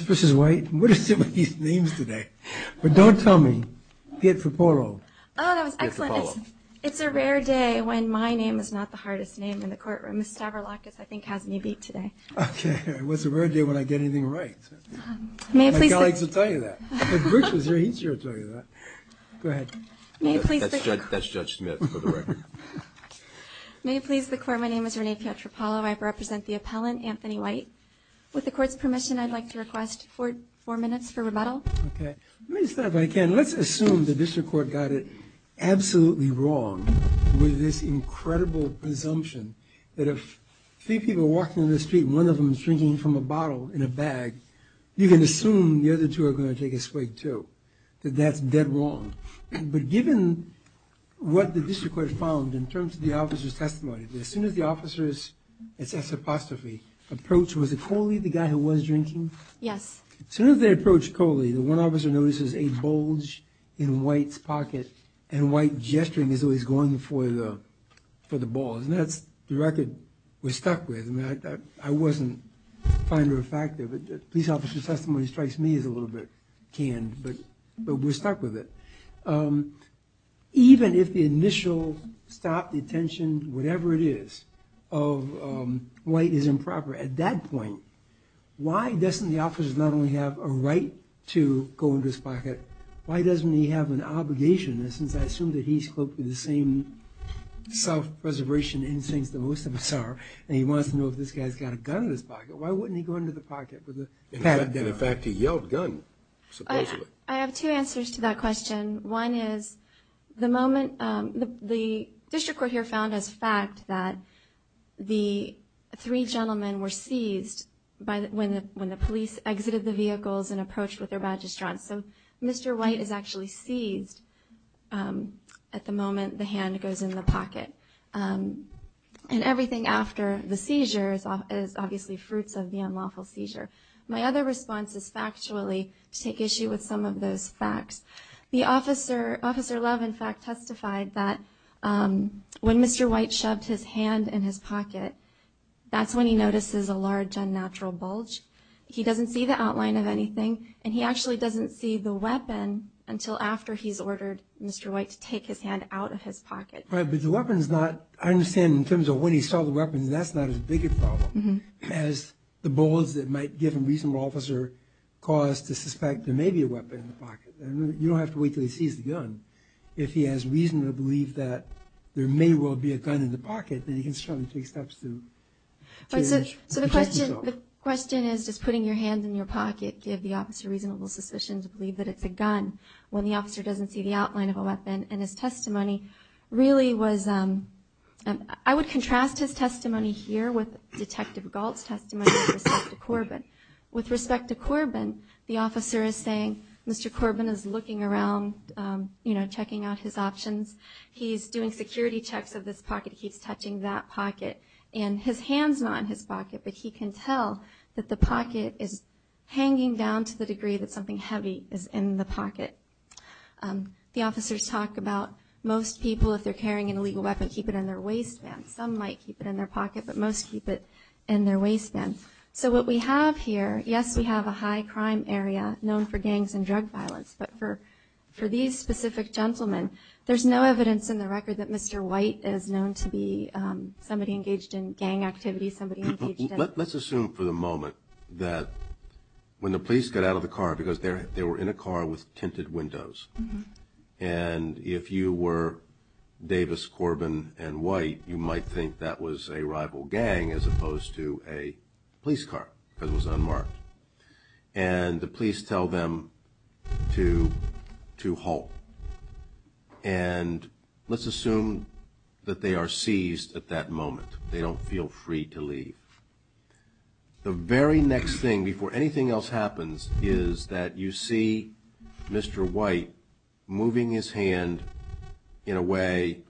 Mrs. White, what are some of these names today? But don't tell me. Pietropolo. Oh, that was excellent. It's a rare day when my name is not the hardest name in the courtroom. Ms. Stavroulakis, I think, has me beat today. Okay. What's a rare day when I get anything right? My colleagues will tell you that. If Bruce was here, he's sure to tell you that. Go ahead. That's Judge Smith for the record. May it please the Court, my name is Renee Pietropolo. I represent the appellant, Anthony White. With the Court's permission, I'd like to request four minutes for rebuttal. Okay. Let me start if I can. Let's assume the District Court got it absolutely wrong with this incredible presumption that if three people are walking down the street and one of them is drinking from a bottle in a bag, you can assume the other two are going to take a swig too, that that's dead wrong. But given what the District Court found in terms of the officer's testimony, as soon as the officers, it's an apostrophe, approach, was it Coley, the guy who was drinking? Yes. As soon as they approach Coley, the one officer notices a bulge in White's pocket and White gesturing as though he's going for the balls, and that's the record we're stuck with. I mean, I wasn't a finder of fact there, but the police officer's testimony strikes me as a little bit canned, but we're stuck with it. Even if the initial stop, detention, whatever it is, of White is improper at that point, why doesn't the officer not only have a right to go into his pocket, why doesn't he have an obligation, since I assume that he's cloaked with the same self-preservation instincts that most of us are, and he wants to know if this guy's got a gun in his pocket, why wouldn't he go into the pocket with a padded gun? And in fact, he yelled, gun, supposedly. I have two answers to that question. One is the moment the district court here found as fact that the three gentlemen were seized when the police exited the vehicles and approached with their magistrates. So Mr. White is actually seized at the moment the hand goes in the pocket. And everything after the seizure is obviously fruits of the unlawful seizure. My other response is factually to take issue with some of those facts. Officer Love, in fact, testified that when Mr. White shoved his hand in his pocket, that's when he notices a large unnatural bulge. He doesn't see the outline of anything, and he actually doesn't see the weapon until after he's ordered Mr. White to take his hand out of his pocket. Right, but the weapon's not, I understand in terms of when he saw the weapon, that's not as big a problem as the bulge that might give a reasonable officer cause to suspect there may be a weapon in the pocket. You don't have to wait until he sees the gun. If he has reason to believe that there may well be a gun in the pocket, then he can certainly take steps to protect himself. So the question is, does putting your hand in your pocket give the officer reasonable suspicion to believe that it's a gun when the officer doesn't see the outline of a weapon? And his testimony really was, I would contrast his testimony here with Detective Galt's testimony with respect to Corbin. With respect to Corbin, the officer is saying, Mr. Corbin is looking around, you know, checking out his options. He's doing security checks of this pocket. He's touching that pocket, and his hand's not in his pocket, but he can tell that the pocket is hanging down to the degree that something heavy is in the pocket. The officers talk about most people, if they're carrying an illegal weapon, keep it in their waistband. Some might keep it in their pocket, but most keep it in their waistband. So what we have here, yes, we have a high crime area known for gangs and drug violence, but for these specific gentlemen, there's no evidence in the record that Mr. White is known to be somebody engaged in gang activity, somebody engaged in... Let's assume for the moment that when the police get out of the car, because they were in a car with tinted windows, and if you were Davis, Corbin, and White, you might think that was a rival gang as opposed to a police car, because it was unmarked. And the police tell them to halt, and let's assume that they are seized at that moment. They don't feel free to leave. The very next thing, before anything else happens, is that you see Mr. White moving his hand in a way,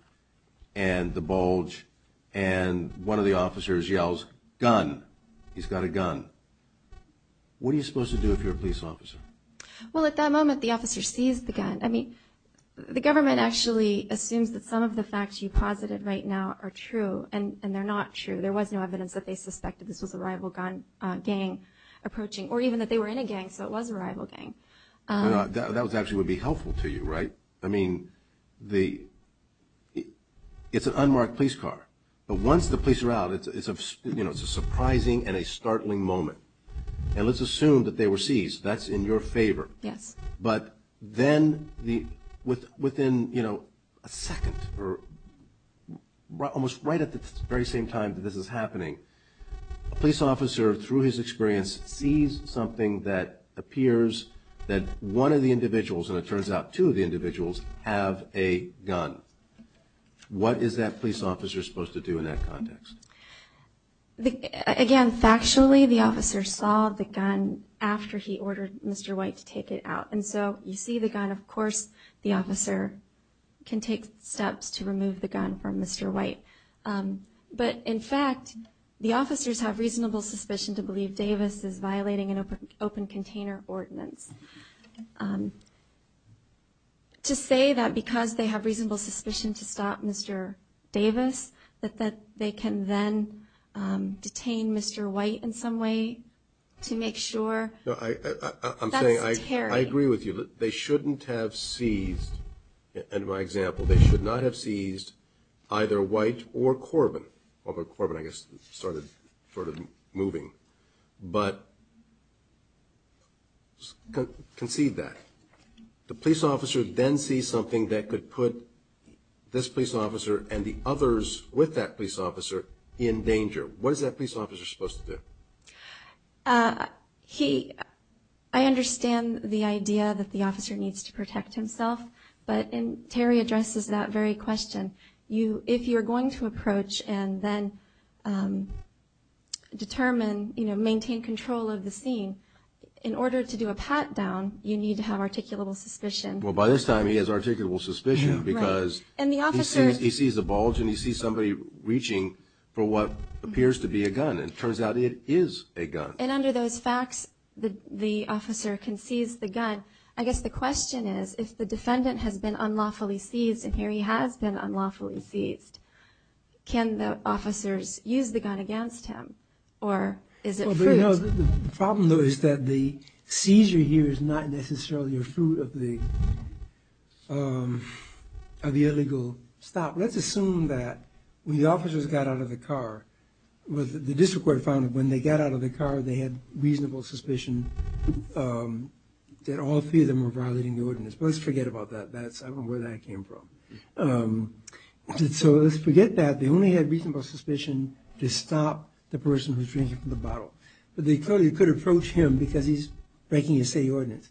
and the bulge, and one of the officers yells, gun, he's got a gun. What are you supposed to do if you're a police officer? Well, at that moment, the officer sees the gun. I mean, the government actually assumes that some of the facts you posited right now are true, and they're not true. There was no evidence that they suspected this was a rival gang approaching, or even that they were in a gang, so it was a rival gang. That actually would be helpful to you, right? I mean, it's an unmarked police car, but once the police are out, it's a surprising and a startling moment. And let's assume that they were seized. That's in your favor. Yes. But then, within a second, or almost right at the very same time that this is happening, a police officer, through his experience, sees something that appears that one of the individuals, and it turns out two of the individuals, have a gun. What is that police officer supposed to do in that context? Again, factually, the officer saw the gun after he ordered Mr. White to take it out. And so you see the gun. Of course, the officer can take steps to remove the gun from Mr. White. But, in fact, the officers have reasonable suspicion to believe Davis is violating an open container ordinance. To say that because they have reasonable suspicion to stop Mr. Davis, that they can then detain Mr. White in some way to make sure, that's a tarry. I agree with you. They shouldn't have seized, in my example, they should not have seized either White or Corbin. Although Corbin, I guess, started sort of moving. But conceive that. The police officer then sees something that could put this police officer and the others with that police officer in danger. What is that police officer supposed to do? I understand the idea that the officer needs to protect himself. But Terry addresses that very question. If you're going to approach and then determine, maintain control of the scene, in order to do a pat-down, you need to have articulable suspicion. Well, by this time, he has articulable suspicion because he sees a bulge and he sees somebody reaching for what appears to be a gun. And it turns out it is a gun. And under those facts, the officer can seize the gun. I guess the question is, if the defendant has been unlawfully seized, and here he has been unlawfully seized, can the officers use the gun against him? Or is it fruit? The problem, though, is that the seizure here is not necessarily a fruit of the illegal stop. Let's assume that when the officers got out of the car, the district court found that when they got out of the car, they had reasonable suspicion that all three of them were violating the ordinance. But let's forget about that. I don't know where that came from. So let's forget that. They only had reasonable suspicion to stop the person who was drinking from the bottle. But they clearly could approach him because he's breaking a state ordinance.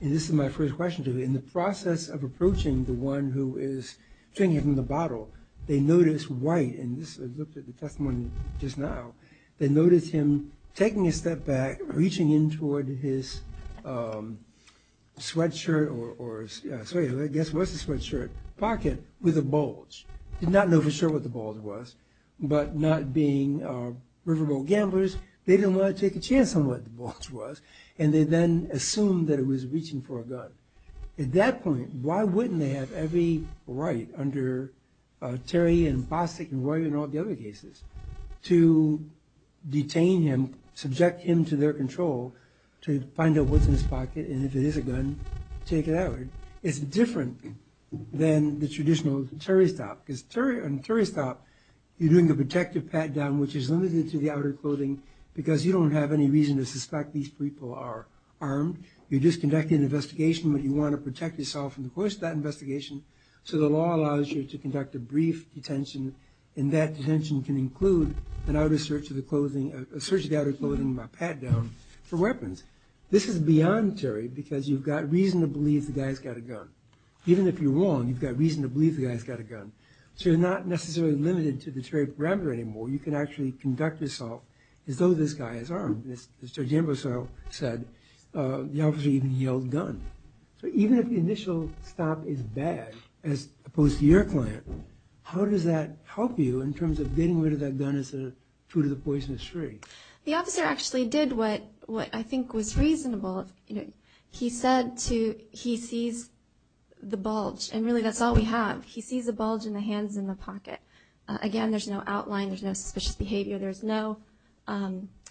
And this is my first question to you. In the process of approaching the one who is drinking from the bottle, they notice White, and I looked at the testimony just now, they notice him taking a step back, reaching in toward his sweatshirt pocket with a bulge. Did not know for sure what the bulge was, but not being riverboat gamblers, they didn't want to take a chance on what the bulge was, and they then assumed that it was reaching for a gun. At that point, why wouldn't they have every right under Terry and Bostic and Roy and all the other cases to detain him, subject him to their control, to find out what's in his pocket, and if it is a gun, take it out. It's different than the traditional Terry stop. Because on a Terry stop, you're doing a protective pat-down, which is limited to the outer clothing, because you don't have any reason to suspect these people are armed. You're just conducting an investigation, but you want to protect yourself in the course of that investigation. So the law allows you to conduct a brief detention, and that detention can include a search of the outer clothing and a pat-down for weapons. This is beyond Terry, because you've got reason to believe the guy's got a gun. Even if you're wrong, you've got reason to believe the guy's got a gun. So you're not necessarily limited to the Terry parameter anymore. You can actually conduct assault as though this guy is armed. As Judge Ambrose said, the officer even yelled, gun. So even if the initial stop is bad, as opposed to your client, how does that help you in terms of getting rid of that gun as a fruit of the poisonous tree? The officer actually did what I think was reasonable. He said he sees the bulge, and really that's all we have. He sees the bulge in the hands in the pocket. Again, there's no outline. There's no suspicious behavior. There's no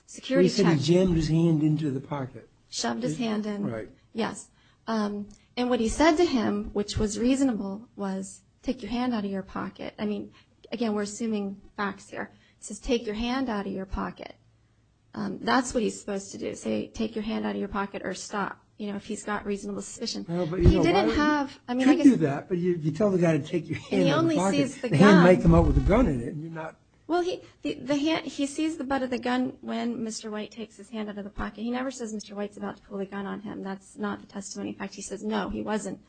security check. He said he jammed his hand into the pocket. Shoved his hand in. Right. Yes. And what he said to him, which was reasonable, was, take your hand out of your pocket. Again, we're assuming facts here. He says, take your hand out of your pocket. That's what he's supposed to do, say, take your hand out of your pocket or stop, if he's got reasonable suspicion. He didn't have – He could do that, but you tell the guy to take your hand out of the pocket. And he only sees the gun. The hand might come up with a gun in it, and you're not – He sees the butt of the gun when Mr. White takes his hand out of the pocket. He never says Mr. White's about to pull the gun on him. That's not the testimony. In fact, he says, no, he wasn't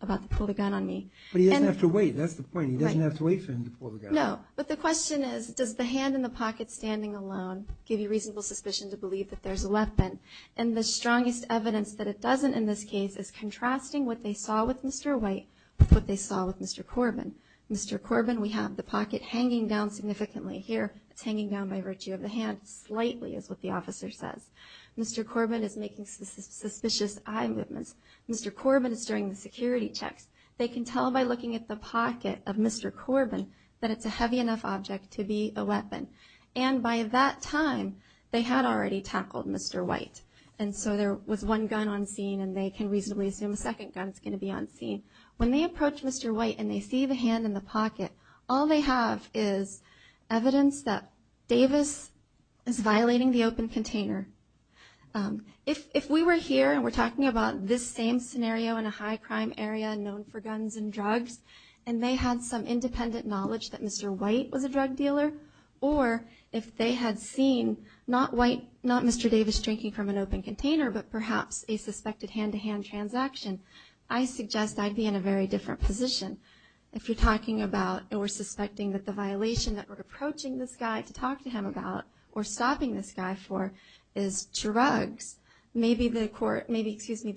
about to pull the gun on me. But he doesn't have to wait. That's the point. He doesn't have to wait for him to pull the gun. No, but the question is, does the hand in the pocket standing alone give you reasonable suspicion to believe that there's a weapon? And the strongest evidence that it doesn't in this case is contrasting what they saw with Mr. White with what they saw with Mr. Corbin. Mr. Corbin, we have the pocket hanging down significantly. Here, it's hanging down by virtue of the hand slightly is what the officer says. Mr. Corbin is making suspicious eye movements. Mr. Corbin is doing the security checks. They can tell by looking at the pocket of Mr. Corbin that it's a heavy enough object to be a weapon. And by that time, they had already tackled Mr. White. And so there was one gun on scene, and they can reasonably assume a second gun is going to be on scene. When they approach Mr. White and they see the hand in the pocket, all they have is evidence that Davis is violating the open container. If we were here and we're talking about this same scenario in a high-crime area known for guns and drugs, and they had some independent knowledge that Mr. White was a drug dealer, or if they had seen not Mr. Davis drinking from an open container, but perhaps a suspected hand-to-hand transaction, I suggest I'd be in a very different position. If you're talking about or suspecting that the violation that we're approaching this guy to talk to him about or stopping this guy for is drugs, maybe the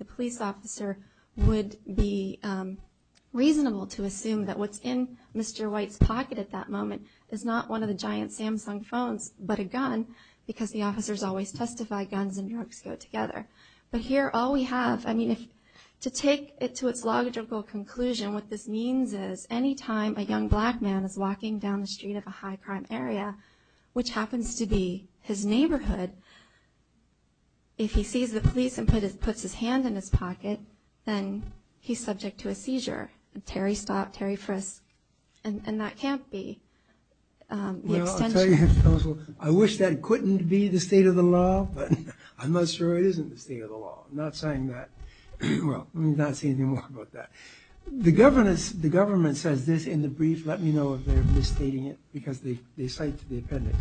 police officer would be reasonable to assume that what's in Mr. White's pocket at that moment is not one of the giant Samsung phones but a gun because the officers always testify guns and drugs go together. But here all we have, I mean, to take it to its logical conclusion, what this means is any time a young black man is walking down the street of a high-crime area, which happens to be his neighborhood, if he sees the police and puts his hand in his pocket, then he's subject to a seizure. Terry stopped, Terry frisked, and that can't be the extension. I wish that couldn't be the state of the law, but I'm not sure it isn't the state of the law. I'm not saying that. Well, let me not say any more about that. The government says this in the brief. Let me know if they're misstating it because they cite the appendix.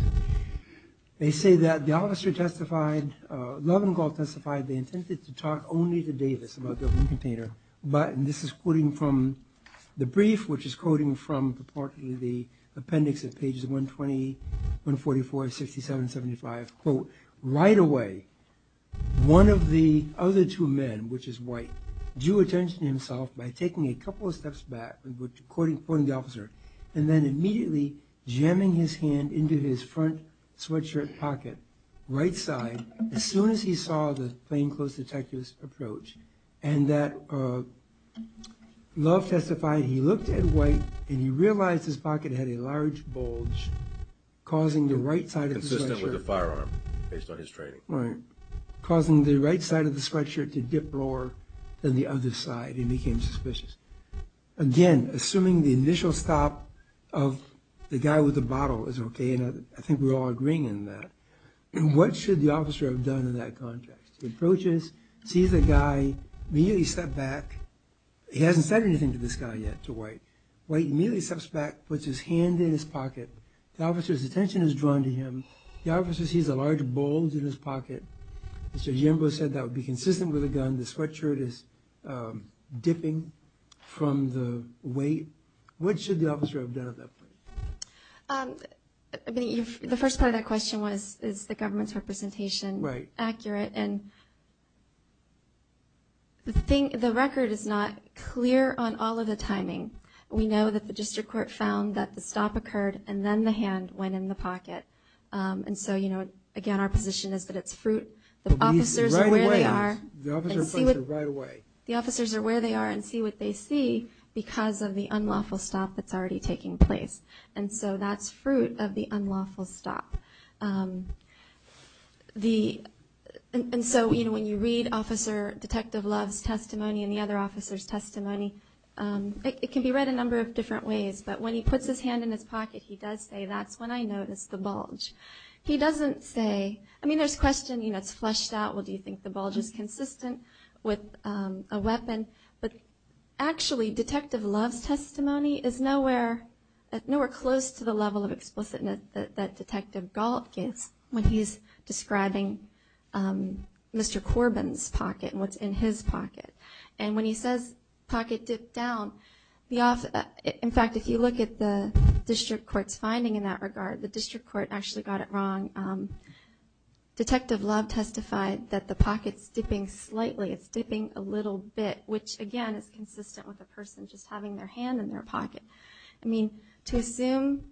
They say that the officer testified, Lovingall testified they intended to talk only to Davis about the open container, but, and this is quoting from the brief, which is quoting from the appendix at pages 120, 144, 67, 75, quote, right away, one of the other two men, which is white, drew attention to himself by taking a couple of steps back, quoting the officer, and then immediately jamming his hand into his front sweatshirt pocket, right side, as soon as he saw the plainclothes detective's approach, and that Love testified he looked at white and he realized his pocket had a large bulge consistent with the firearm, based on his training, causing the right side of the sweatshirt to dip lower than the other side, and he became suspicious. Again, assuming the initial stop of the guy with the bottle is okay, and I think we're all agreeing on that, what should the officer have done in that context? He approaches, sees the guy, immediately stepped back, he hasn't said anything to this guy yet, to white, white immediately steps back, puts his hand in his pocket, the officer's attention is drawn to him, the officer sees a large bulge in his pocket, Mr. Jimbo said that would be consistent with the gun, the sweatshirt is dipping from the weight, what should the officer have done at that point? The first part of that question was, is the government's representation accurate, and the record is not clear on all of the timing. We know that the district court found that the stop occurred, and then the hand went in the pocket, and so again, our position is that it's fruit, the officers are where they are, the officers are where they are and see what they see, because of the unlawful stop that's already taking place, and so that's fruit of the unlawful stop. And so when you read Officer Detective Love's testimony, and the other officers' testimony, it can be read a number of different ways, but when he puts his hand in his pocket, he does say, that's when I noticed the bulge. He doesn't say, I mean, there's questioning that's fleshed out, well, do you think the bulge is consistent with a weapon? But actually, Detective Love's testimony is nowhere close to the level of explicitness that Detective Galt gives when he's describing Mr. Corbin's pocket and what's in his pocket. And when he says pocket dipped down, in fact, if you look at the district court's finding in that regard, the district court actually got it wrong. Detective Love testified that the pocket's dipping slightly, it's dipping a little bit, which, again, is consistent with a person just having their hand in their pocket. I mean, to assume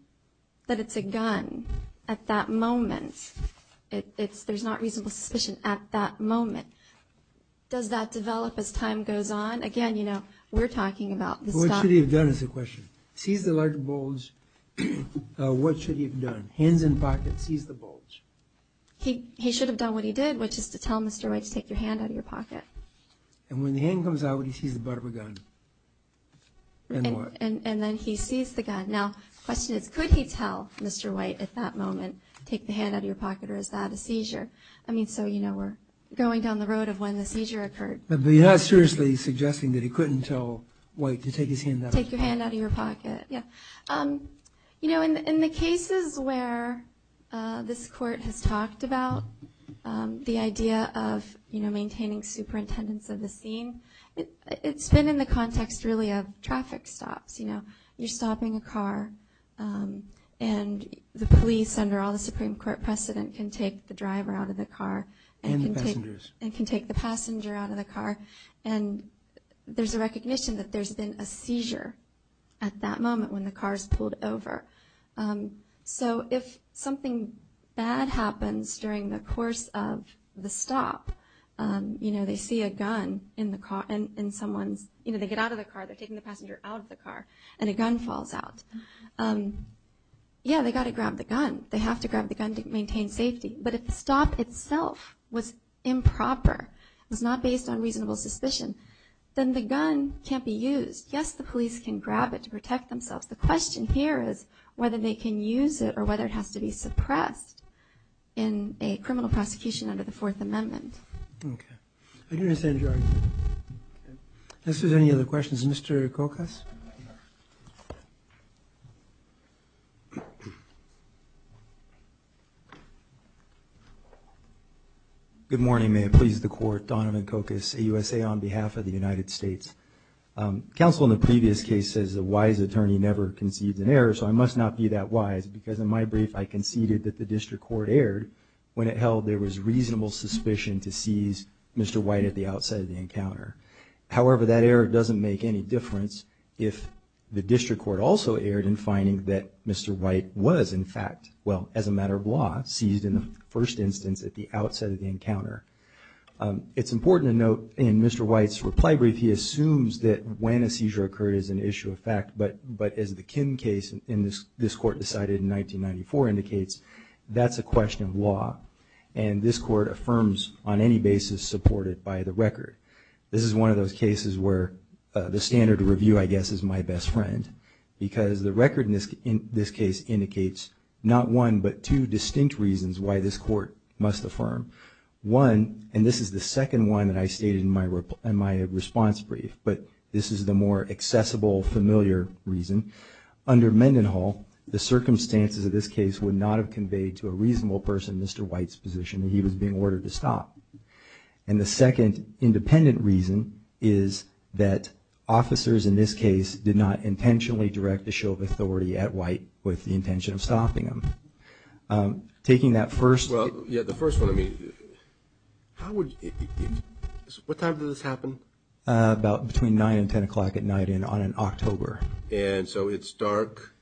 that it's a gun at that moment, there's not reasonable suspicion at that moment. Does that develop as time goes on? Again, you know, we're talking about this guy. What should he have done is the question. Seize the large bulge. What should he have done? Hands in pocket, seize the bulge. He should have done what he did, which is to tell Mr. White to take your hand out of your pocket. And when the hand comes out, what he sees is the bottom of the gun. And then he sees the gun. Now, the question is, could he tell Mr. White at that moment to take the hand out of your pocket, or is that a seizure? So, you know, we're going down the road of when the seizure occurred. But you're not seriously suggesting that he couldn't tell White to take his hand out of his pocket? Take your hand out of your pocket, yeah. You know, in the cases where this court has talked about the idea of, you know, maintaining superintendence of the scene, it's been in the context, really, of traffic stops. You know, you're stopping a car, and the police, under all the Supreme Court precedent, can take the driver out of the car. And the passengers. And can take the passenger out of the car. And there's a recognition that there's been a seizure at that moment when the car is pulled over. So if something bad happens during the course of the stop, you know, they see a gun in someone's, you know, they get out of the car, they're taking the passenger out of the car, and a gun falls out. Yeah, they've got to grab the gun. They have to grab the gun to maintain safety. But if the stop itself was improper, was not based on reasonable suspicion, then the gun can't be used. Yes, the police can grab it to protect themselves. The question here is whether they can use it or whether it has to be suppressed in a criminal prosecution under the Fourth Amendment. Okay. I do understand your argument. Unless there's any other questions. Mr. Kokas. Good morning. May it please the Court. Donovan Kokas, AUSA, on behalf of the United States. Counsel in the previous case says a wise attorney never concedes an error, so I must not be that wise because in my brief, I conceded that the district court erred when it held there was reasonable suspicion to seize Mr. White at the outset of the encounter. However, that error doesn't make any difference if the district court also erred in finding that Mr. White was, in fact, well, as a matter of law, seized in the first instance at the outset of the encounter. It's important to note in Mr. White's reply brief, he assumes that when a seizure occurred is an issue of fact, but as the Kim case in this Court decided in 1994 indicates, that's a question of law. And this Court affirms on any basis supported by the record. This is one of those cases where the standard review, I guess, is my best friend because the record in this case indicates not one, but two distinct reasons why this Court must affirm. One, and this is the second one that I stated in my response brief, but this is the more accessible, familiar reason. Under Mendenhall, the circumstances of this case would not have conveyed to a White's position that he was being ordered to stop. And the second independent reason is that officers in this case did not intentionally direct the show of authority at White with the intention of stopping him. Taking that first – Well, yeah, the first one, I mean, how would – what time did this happen? About between 9 and 10 o'clock at night on an October. And so it's dark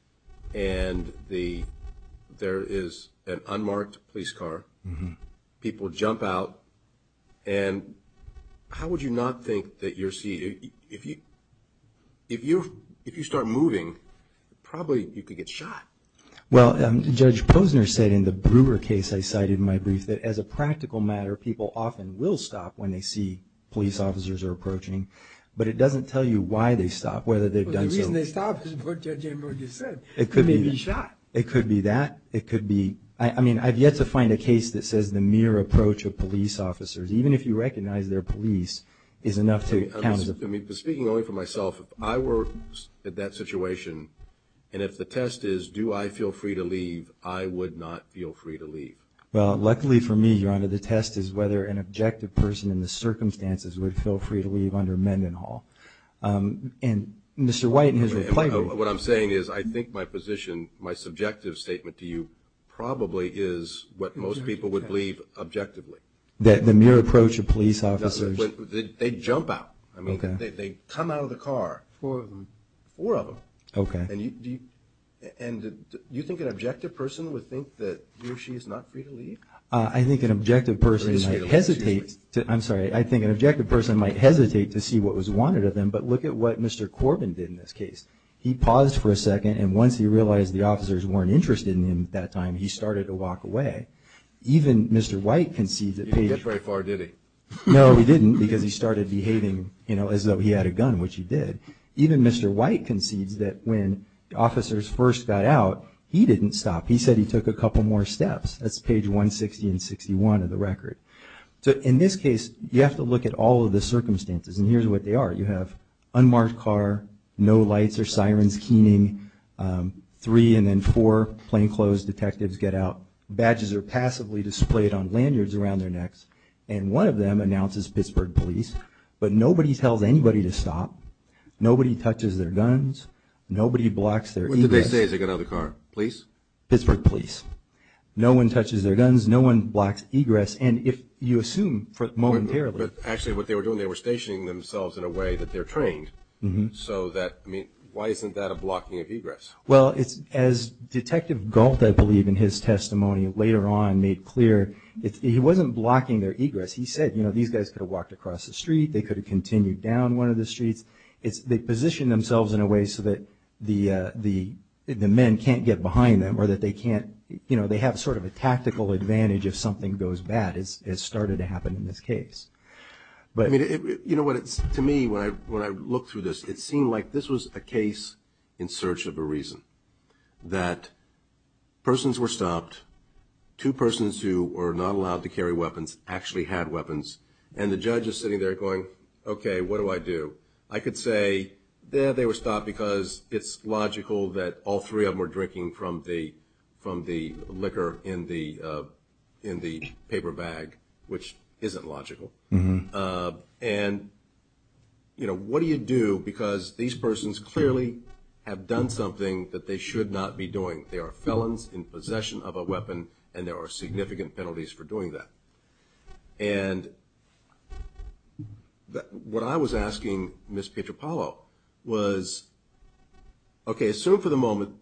and there is an unmarked police car. People jump out. And how would you not think that you're seeing – if you start moving, probably you could get shot. Well, Judge Posner said in the Brewer case I cited in my brief that as a practical matter, people often will stop when they see police officers are approaching, but it doesn't tell you why they stop, whether they've done something. Well, the reason they stop is what Judge Emerald just said. They may be shot. It could be that. It could be – I mean, I've yet to find a case that says the mere approach of police officers, even if you recognize they're police, is enough to count. I mean, speaking only for myself, if I were in that situation and if the test is do I feel free to leave, I would not feel free to leave. Well, luckily for me, Your Honor, the test is whether an objective person in the circumstances would feel free to leave under Mendenhall. And Mr. White in his reply – What I'm saying is I think my position, my subjective statement to you, probably is what most people would believe objectively. That the mere approach of police officers – They jump out. Okay. I mean, they come out of the car. Four of them. Four of them. Okay. And do you think an objective person would think that he or she is not free to leave? I think an objective person might hesitate to – I'm sorry. But look at what Mr. Corbin did in this case. He paused for a second, and once he realized the officers weren't interested in him at that time, he started to walk away. Even Mr. White concedes that – He didn't get very far, did he? No, he didn't because he started behaving as though he had a gun, which he did. Even Mr. White concedes that when officers first got out, he didn't stop. He said he took a couple more steps. That's page 160 and 61 of the record. So in this case, you have to look at all of the circumstances, and here's what they are. You have unmarked car, no lights or sirens keening, three and then four plainclothes detectives get out. Badges are passively displayed on lanyards around their necks, and one of them announces Pittsburgh Police. But nobody tells anybody to stop. Nobody touches their guns. Nobody blocks their egress. What did they say as they got out of the car? Police? Pittsburgh Police. No one touches their guns. No one blocks egress. And if you assume momentarily – that they're trained, so that – I mean, why isn't that a blocking of egress? Well, as Detective Galt, I believe, in his testimony later on made clear, he wasn't blocking their egress. He said, you know, these guys could have walked across the street, they could have continued down one of the streets. They positioned themselves in a way so that the men can't get behind them or that they can't – you know, they have sort of a tactical advantage if something goes bad, as started to happen in this case. But, I mean, you know what? To me, when I look through this, it seemed like this was a case in search of a reason, that persons were stopped, two persons who were not allowed to carry weapons actually had weapons, and the judge is sitting there going, okay, what do I do? I could say, yeah, they were stopped because it's logical that all three of them were drinking from the liquor in the paper bag, which isn't logical. And, you know, what do you do? Because these persons clearly have done something that they should not be doing. They are felons in possession of a weapon, and there are significant penalties for doing that. And what I was asking Ms. Pietropalo was, okay, assume for the moment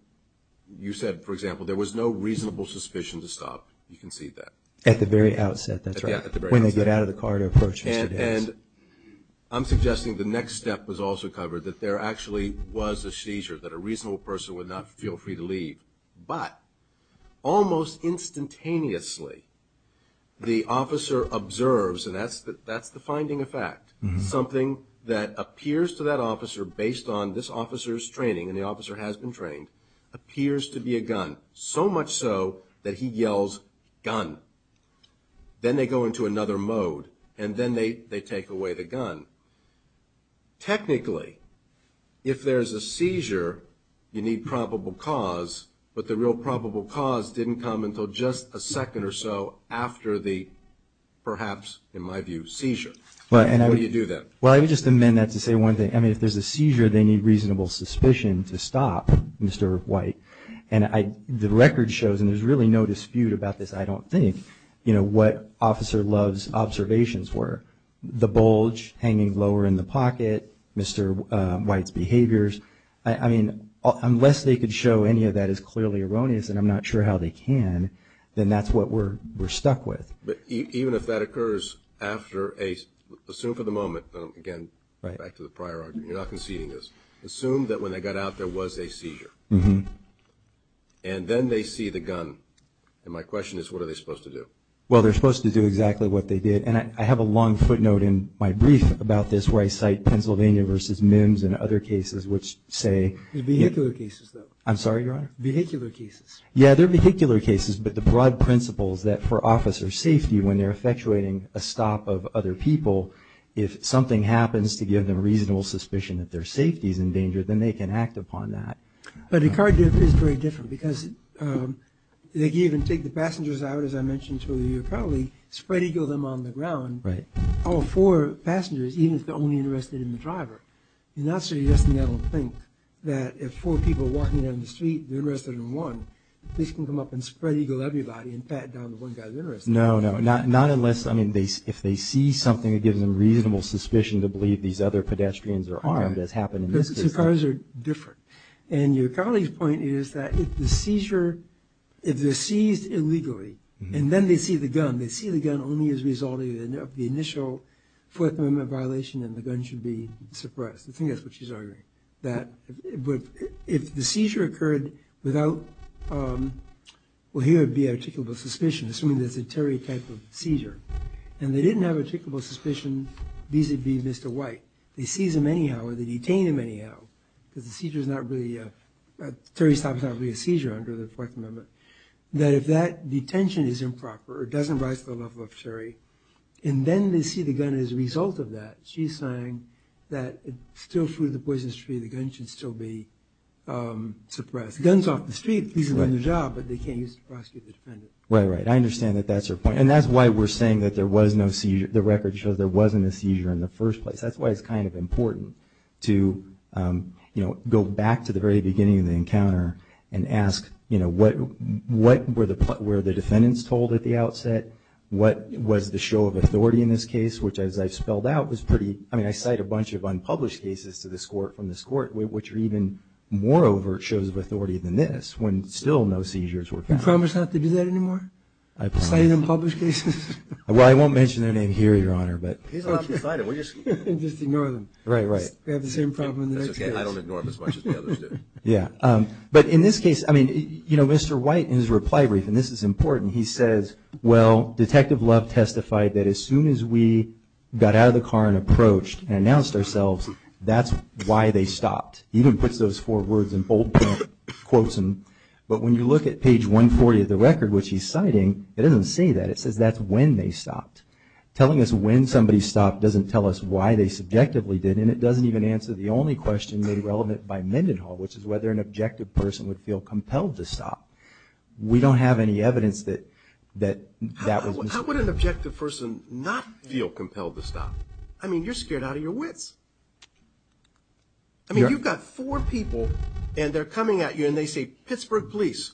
you said, for example, there was no reasonable suspicion to stop. You concede that. At the very outset, that's right. At the very outset. When they get out of the car to approach Mr. Davis. And I'm suggesting the next step was also covered, that there actually was a seizure, that a reasonable person would not feel free to leave. But almost instantaneously, the officer observes, and that's the finding of fact, something that appears to that officer based on this officer's training, and the officer has been trained, appears to be a gun, so much so that he yells, gun. Then they go into another mode, and then they take away the gun. Technically, if there's a seizure, you need probable cause, but the real probable cause didn't come until just a second or so after the perhaps, in my view, seizure. How do you do that? Well, I would just amend that to say one thing. I mean, if there's a seizure, they need reasonable suspicion to stop Mr. White. And the record shows, and there's really no dispute about this, I don't think, what Officer Love's observations were. The bulge hanging lower in the pocket, Mr. White's behaviors. I mean, unless they could show any of that is clearly erroneous, and I'm not sure how they can, then that's what we're stuck with. Even if that occurs after a, assume for the moment, again, back to the prior argument, you're not conceding this, assume that when they got out there was a seizure. And then they see the gun, and my question is, what are they supposed to do? Well, they're supposed to do exactly what they did, and I have a long footnote in my brief about this where I cite Pennsylvania versus Mims and other cases which say. Vehicular cases, though. I'm sorry, Your Honor? Vehicular cases. Yeah, they're vehicular cases, but the broad principles that for officer safety when they're effectuating a stop of other people, if something happens to give them reasonable suspicion that their safety is in danger, then they can act upon that. But a car dip is very different, because they can even take the passengers out, as I mentioned earlier, probably spread-eagle them on the ground, all four passengers, even if they're only interested in the driver. You're not suggesting, I don't think, that if four people are walking down the street, they're interested in one, police can come up and spread-eagle everybody and pat down the one guy that's interested. No, no, not unless, I mean, if they see something that gives them reasonable suspicion to believe these other pedestrians are armed, as happened in this case. Two cars are different, and your colleague's point is that if the seizure, if they're seized illegally and then they see the gun, they see the gun only as a result of the initial Fourth Amendment violation and the gun should be suppressed. I think that's what she's arguing, that if the seizure occurred without, well, here would be articulable suspicion, assuming that it's a Terry type of seizure, and they didn't have articulable suspicion vis-a-vis Mr. White, they seize him anyhow or they detain him anyhow, because the seizure's not really, Terry's type is not really a seizure under the Fourth Amendment, that if that detention is improper, it doesn't rise to the level of Terry, and then they see the gun as a result of that, she's saying that it still flew to the Poison Street, the gun should still be suppressed. If the gun's off the street, you can run the job, but they can't use it to prosecute the defendant. Right, right, I understand that that's her point, and that's why we're saying that there was no seizure, the record shows there wasn't a seizure in the first place. That's why it's kind of important to go back to the very beginning of the encounter and ask what were the defendants told at the outset, what was the show of authority in this case, which, as I spelled out, was pretty, I mean, I cite a bunch of unpublished cases from this court, which are even more overt shows of authority than this, when still no seizures were found. Do you promise not to do that anymore, citing unpublished cases? Well, I won't mention their name here, Your Honor, but... He's not citing, we're just... Just ignore them. Right, right. We have the same problem in the next case. That's okay, I don't ignore them as much as the others do. Yeah, but in this case, I mean, you know, Mr. White, in his reply brief, and this is important, he says, well, Detective Love testified that as soon as we got out of the car and approached and announced ourselves, that's why they stopped. He even puts those four words in bold quotes, but when you look at page 140 of the record, which he's citing, it doesn't say that. It says that's when they stopped. Telling us when somebody stopped doesn't tell us why they subjectively did, and it doesn't even answer the only question made relevant by Mendenhall, which is whether an objective person would feel compelled to stop. We don't have any evidence that that was... How would an objective person not feel compelled to stop? I mean, you're scared out of your wits. I mean, you've got four people, and they're coming at you, and they say, Pittsburgh Police.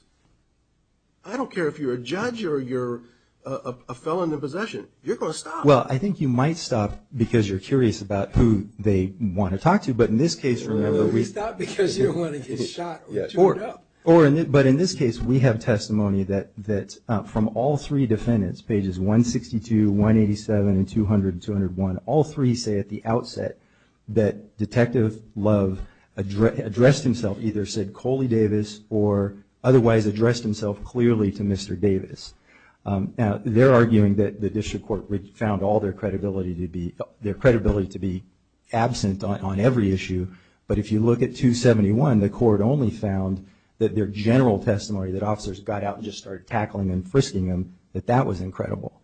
I don't care if you're a judge or you're a felon in possession. You're going to stop. Well, I think you might stop because you're curious about who they want to talk to, but in this case, remember... You stop because you don't want to get shot or chewed up. But in this case, we have testimony that from all three defendants, pages 162, 187, and 200 and 201, all three say at the outset that Detective Love addressed himself, either said Coley Davis or otherwise addressed himself clearly to Mr. Davis. Now, they're arguing that the district court found all their credibility to be absent on every issue, but if you look at 271, the court only found that their general testimony, that officers got out and just started tackling and frisking them, that that was incredible.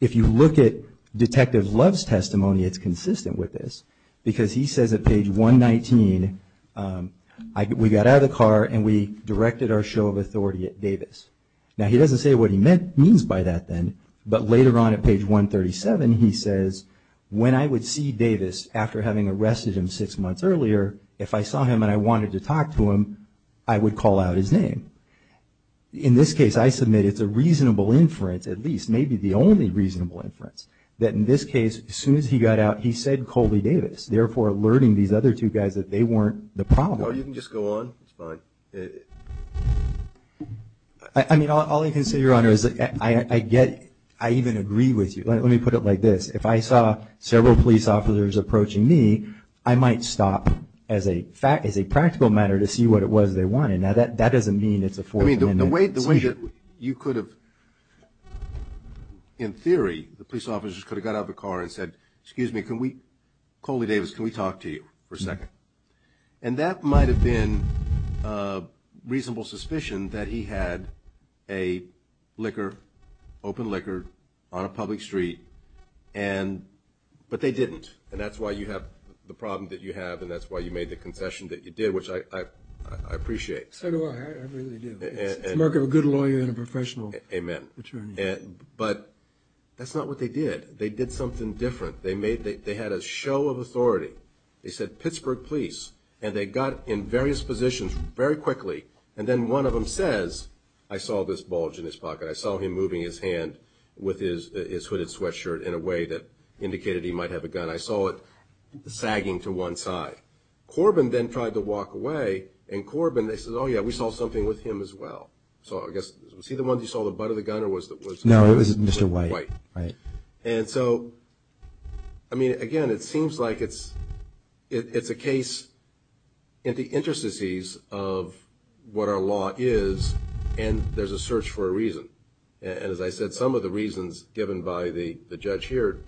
If you look at Detective Love's testimony, it's consistent with this because he says at page 119, we got out of the car and we directed our show of authority at Davis. Now, he doesn't say what he means by that then, but later on at page 137, he says, when I would see Davis after having arrested him six months earlier, if I saw him and I wanted to talk to him, I would call out his name. In this case, I submit it's a reasonable inference, at least, maybe the only reasonable inference, that in this case, as soon as he got out, he said Coley Davis, therefore alerting these other two guys that they weren't the problem. No, you can just go on. It's fine. I mean, all I can say, Your Honor, is I get... I even agree with you. Let me put it like this. If I saw several police officers approaching me, I might stop as a practical matter to see what it was they wanted. Now, that doesn't mean it's a Fourth Amendment... I mean, the way that you could have... In theory, the police officers could have got out of the car and said, excuse me, can we... Coley Davis, can we talk to you for a second? And that might have been a reasonable suspicion that he had a liquor, open liquor, on a public street, and... but they didn't. And that's why you have the problem that you have, and that's why you made the concession that you did, which I appreciate. So do I. I really do. It's the work of a good lawyer and a professional attorney. Amen. But that's not what they did. They did something different. They made... they had a show of authority. They said, Pittsburgh Police, and they got in various positions very quickly, and then one of them says, I saw this bulge in his pocket, I saw him moving his hand with his hooded sweatshirt in a way that indicated he might have a gun, I saw it sagging to one side. Corbin then tried to walk away, and Corbin, they said, oh yeah, we saw something with him as well. So I guess, was he the one you saw with the butt of the gun, or was it... No, it was Mr. White. Right. And so, I mean, again, it seems like it's a case in the interstices of what our law is, and there's a search for a reason. And as I said, some of the reasons given by the judge here,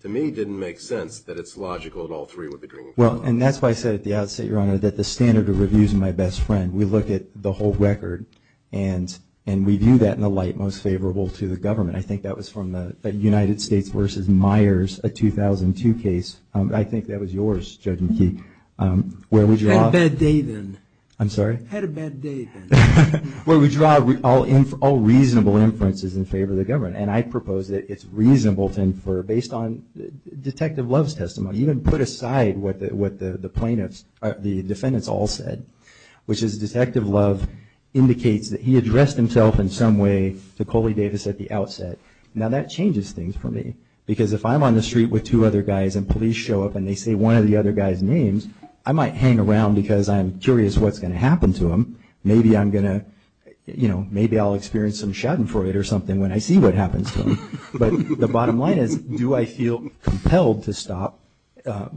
to me, didn't make sense that it's logical that all three would be bringing... Well, and that's why I said at the outset, Your Honor, that the standard of review is my best friend. We look at the whole record, and we view that in a light most favorable to the government. I think that was from the United States versus Myers, a 2002 case. I think that was yours, Judge McKee. Had a bad day then. I'm sorry? Had a bad day then. Where we draw all reasonable inferences in favor of the government. And I propose that it's reasonable to infer, based on Detective Love's testimony, even put aside what the plaintiffs, the defendants all said, which is Detective Love indicates that he addressed himself in some way to Coley Davis at the outset. Now, that changes things for me. Because if I'm on the street with two other guys and police show up and they say one of the other guys' names, I might hang around because I'm curious what's going to happen to them. Maybe I'll experience some schadenfreude or something when I see what happens to them. But the bottom line is, do I feel compelled to stop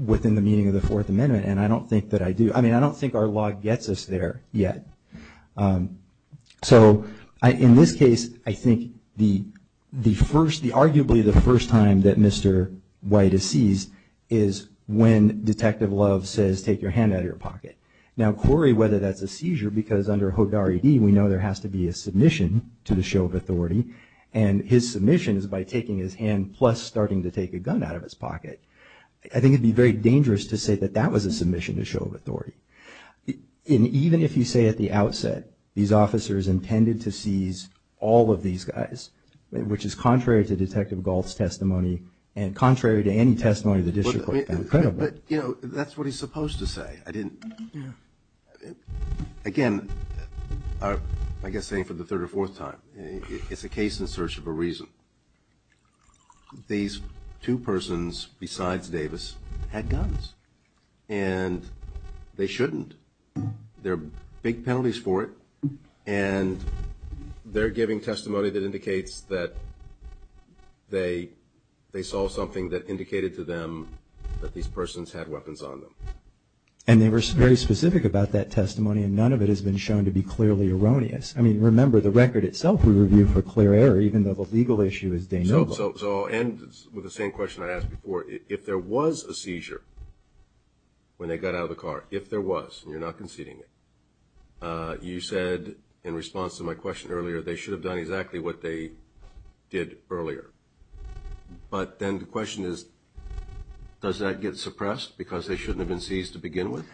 within the meaning of the Fourth Amendment? And I don't think that I do. I mean, I don't think our law gets us there yet. So in this case, I think the first, arguably the first time that Mr. White is seized is when Detective Love says, take your hand out of your pocket. Now, Corey, whether that's a seizure, because under HODAR-ED, we know there has to be a submission to the show of authority, and his submission is by taking his hand plus starting to take a gun out of his pocket. I think it would be very dangerous to say that that was a submission to show of authority. And even if you say at the outset these officers intended to seize all of these guys, which is contrary to Detective Galt's testimony and contrary to any testimony of the district court found credible. But, you know, that's what he's supposed to say. I didn't, again, I guess saying for the third or fourth time, it's a case in search of a reason. These two persons, besides Davis, had guns. And they shouldn't. There are big penalties for it. And they're giving testimony that indicates that they saw something that indicated to them that these persons had weapons on them. And they were very specific about that testimony, and none of it has been shown to be clearly erroneous. I mean, remember, the record itself we reviewed for clear error, even though the legal issue is de novo. So I'll end with the same question I asked before. If there was a seizure when they got out of the car, if there was, and you're not conceding it, you said in response to my question earlier, they should have done exactly what they did earlier. But then the question is, does that get suppressed because they shouldn't have been seized to begin with?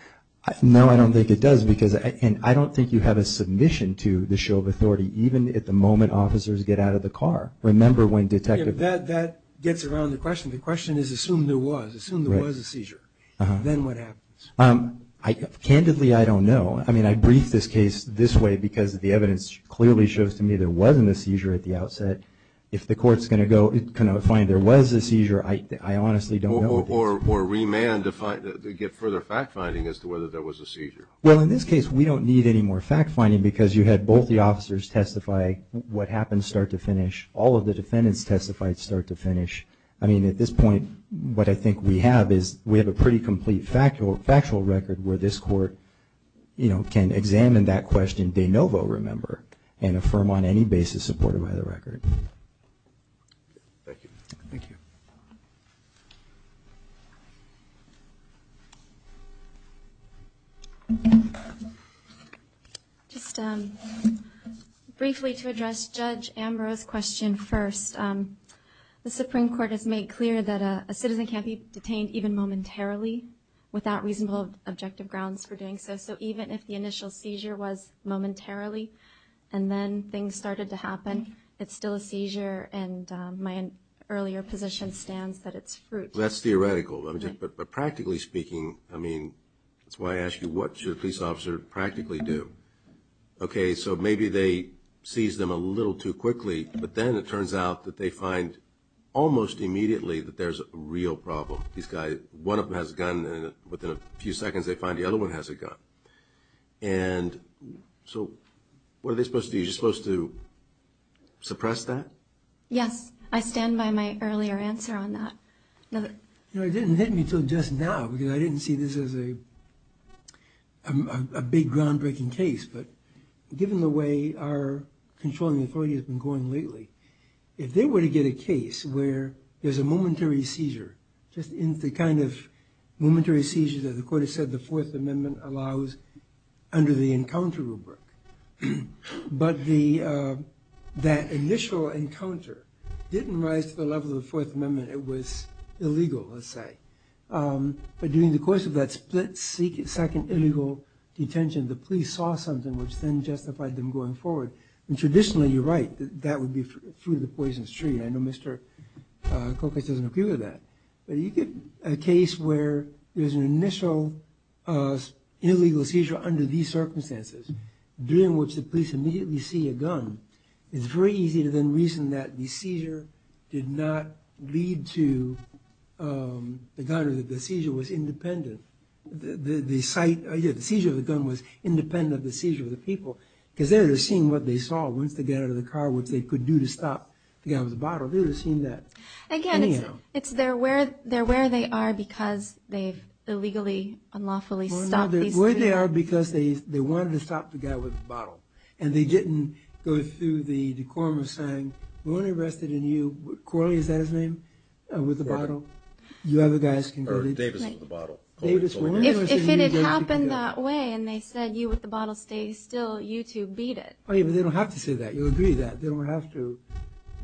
No, I don't think it does. And I don't think you have a submission to the show of authority, even at the moment officers get out of the car. Remember when Detective – That gets around the question. The question is, assume there was. Assume there was a seizure. Then what happens? Candidly, I don't know. I mean, I briefed this case this way because the evidence clearly shows to me there wasn't a seizure at the outset. If the court's going to find there was a seizure, I honestly don't know. Or remand to get further fact-finding as to whether there was a seizure. Well, in this case, we don't need any more fact-finding because you had both the officers testify what happened start to finish. All of the defendants testified start to finish. I mean, at this point, what I think we have is we have a pretty complete factual record where this court can examine that question de novo, remember, and affirm on any basis supported by the record. Thank you. Thank you. Just briefly to address Judge Ambrose's question first. The Supreme Court has made clear that a citizen can't be detained even momentarily without reasonable objective grounds for doing so. So even if the initial seizure was momentarily and then things started to happen, it's still a seizure and my earlier position stands that it's fruit. That's theoretical. But practically speaking, I mean, that's why I ask you, what should a police officer practically do? Okay, so maybe they seize them a little too quickly, but then it turns out that they find almost immediately that there's a real problem. One of them has a gun and within a few seconds they find the other one has a gun. And so what are they supposed to do? Are you supposed to suppress that? Yes. I stand by my earlier answer on that. It didn't hit me until just now because I didn't see this as a big groundbreaking case, but given the way our controlling authority has been going lately, if they were to get a case where there's a momentary seizure, just the kind of momentary seizure that the Court has said the Fourth Amendment allows under the encounter rubric, but that initial encounter didn't rise to the level of the Fourth Amendment, it was illegal, let's say. But during the course of that split second illegal detention, the police saw something which then justified them going forward. And traditionally, you're right, that would be through the Poison Street. I know Mr. Kokich doesn't agree with that. But you get a case where there's an initial illegal seizure under these circumstances during which the police immediately see a gun, it's very easy to then reason that the seizure did not lead to the gun or that the seizure was independent. The seizure of the gun was independent of the seizure of the people because they would have seen what they saw once they got out of the car, which they could do to stop the guy with the bottle. They would have seen that. Again, it's they're where they are because they've illegally, unlawfully stopped these people. They're where they are because they wanted to stop the guy with the bottle and they didn't go through the decorum of saying, we want to arrest you, Corley, is that his name, with the bottle? Or Davis with the bottle. If it had happened that way and they said, you with the bottle, stay still, you two beat it. They don't have to say that. You'll agree that. They don't have to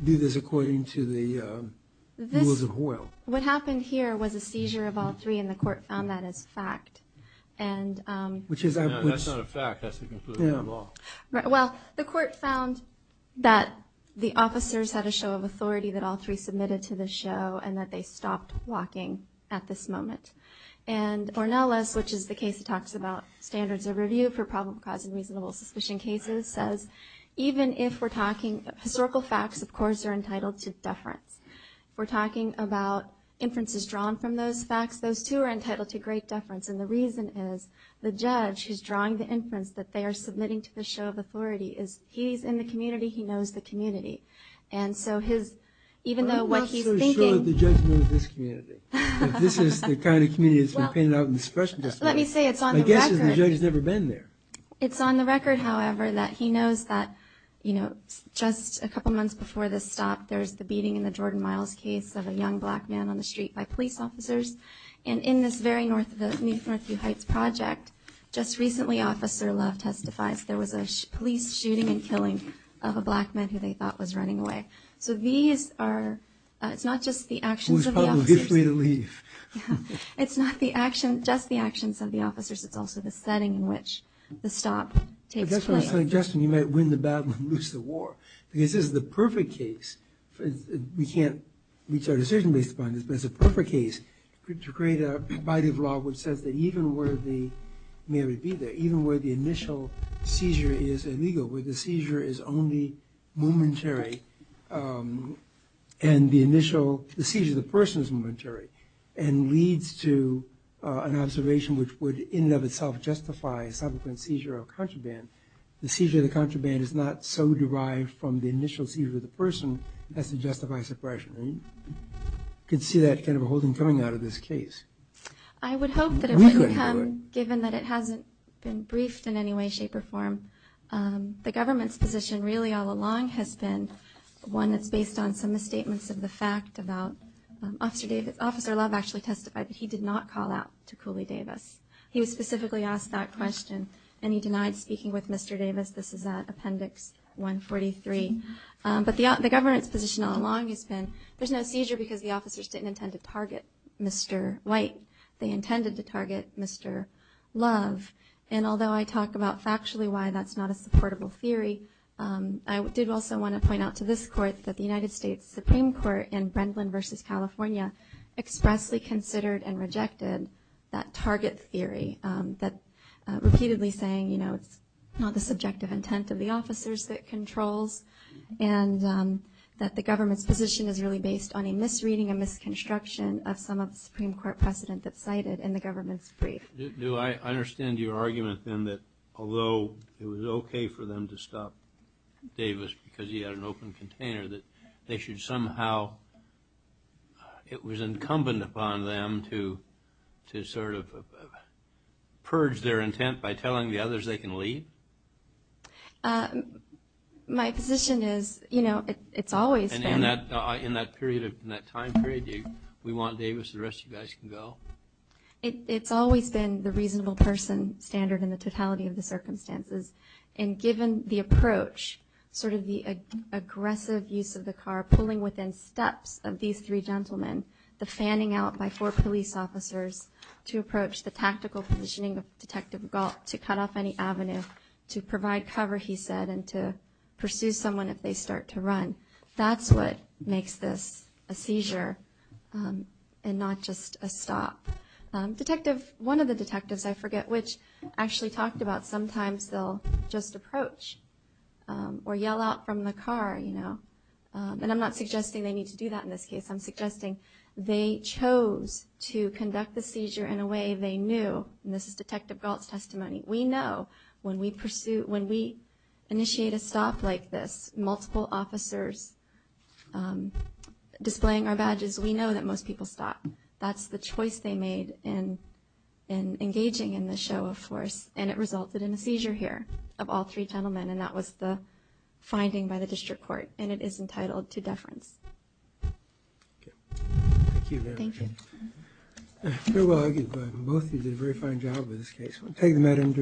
do this according to the rules of the world. What happened here was a seizure of all three and the court found that as fact. That's not a fact, that's the conclusion of the law. Well, the court found that the officers had a show of authority that all three submitted to the show and that they stopped walking at this moment. And Ornelas, which is the case that talks about standards of review for problem-causing reasonable suspicion cases, says, even if we're talking historical facts, of course, are entitled to deference. If we're talking about inferences drawn from those facts, those, too, are entitled to great deference. And the reason is the judge who's drawing the inference that they are submitting to the show of authority is he's in the community, he knows the community. And so his, even though what he's thinking. I'm not so sure that the judge knows this community. If this is the kind of community that's been painted out in the special justice. Let me say, it's on the record. My guess is the judge has never been there. It's on the record, however, that he knows that, you know, just a couple months before this stop, there's the beating in the Jordan Miles case of a young black man on the street by police officers. And in this very Northview Heights project, just recently, Officer Love testifies, there was a police shooting and killing of a black man who they thought was running away. So these are, it's not just the actions of the officers. Who was probably afraid to leave. It's not the action, just the actions of the officers. It's also the setting in which the stop takes place. That's my suggestion. You might win the battle and lose the war. Because this is the perfect case. We can't reach our decision based upon this, but it's a perfect case to create a body of law which says that even where the, even where the initial seizure is illegal, where the seizure is only momentary, and the initial, the seizure of the person is momentary, and leads to an observation which would, in and of itself, justify subsequent seizure or contraband, the seizure of the contraband is not so derived from the initial seizure of the person as to justify suppression. And you can see that kind of a whole thing coming out of this case. I would hope that it wouldn't come, given that it hasn't been briefed in any way, shape, or form. The government's position really all along has been one that's based on some misstatements of the fact about Officer Love actually testified, but he did not call out to Cooley Davis. He was specifically asked that question, and he denied speaking with Mr. Davis. This is at Appendix 143. But the government's position all along has been there's no seizure because the officers didn't intend to target Mr. White. They intended to target Mr. Love. And although I talk about factually why that's not a supportable theory, I did also want to point out to this Court that the United States Supreme Court in Brendan v. California expressly considered and rejected that target theory, that repeatedly saying, you know, it's not the subjective intent of the officers that controls, and that the government's position is really based on a misreading, a misconstruction of some of the Supreme Court precedent that's cited in the government's brief. Do I understand your argument, then, that although it was okay for them to stop Davis because he had an open container, that they should somehow, it was incumbent upon them to sort of purge their intent by telling the others they can leave? My position is, you know, it's always been. And in that period, in that time period, we want Davis, the rest of you guys can go. It's always been the reasonable person standard in the totality of the circumstances. And given the approach, sort of the aggressive use of the car, pulling within steps of these three gentlemen, the fanning out by four police officers to approach the tactical positioning of to provide cover, he said, and to pursue someone if they start to run. That's what makes this a seizure and not just a stop. Detective, one of the detectives, I forget which actually talked about, sometimes they'll just approach or yell out from the car, you know, and I'm not suggesting they need to do that in this case. I'm suggesting they chose to conduct the seizure in a way they knew, and this is Detective Galt's testimony. We know when we pursue, when we initiate a stop like this, multiple officers displaying our badges, we know that most people stop. That's the choice they made in engaging in the show of force, and it resulted in a seizure here of all three gentlemen, and that was the finding by the district court, and it is entitled to deference. Thank you very much. Thank you. Very well argued, but both of you did a very fine job with this case. Thank you very much.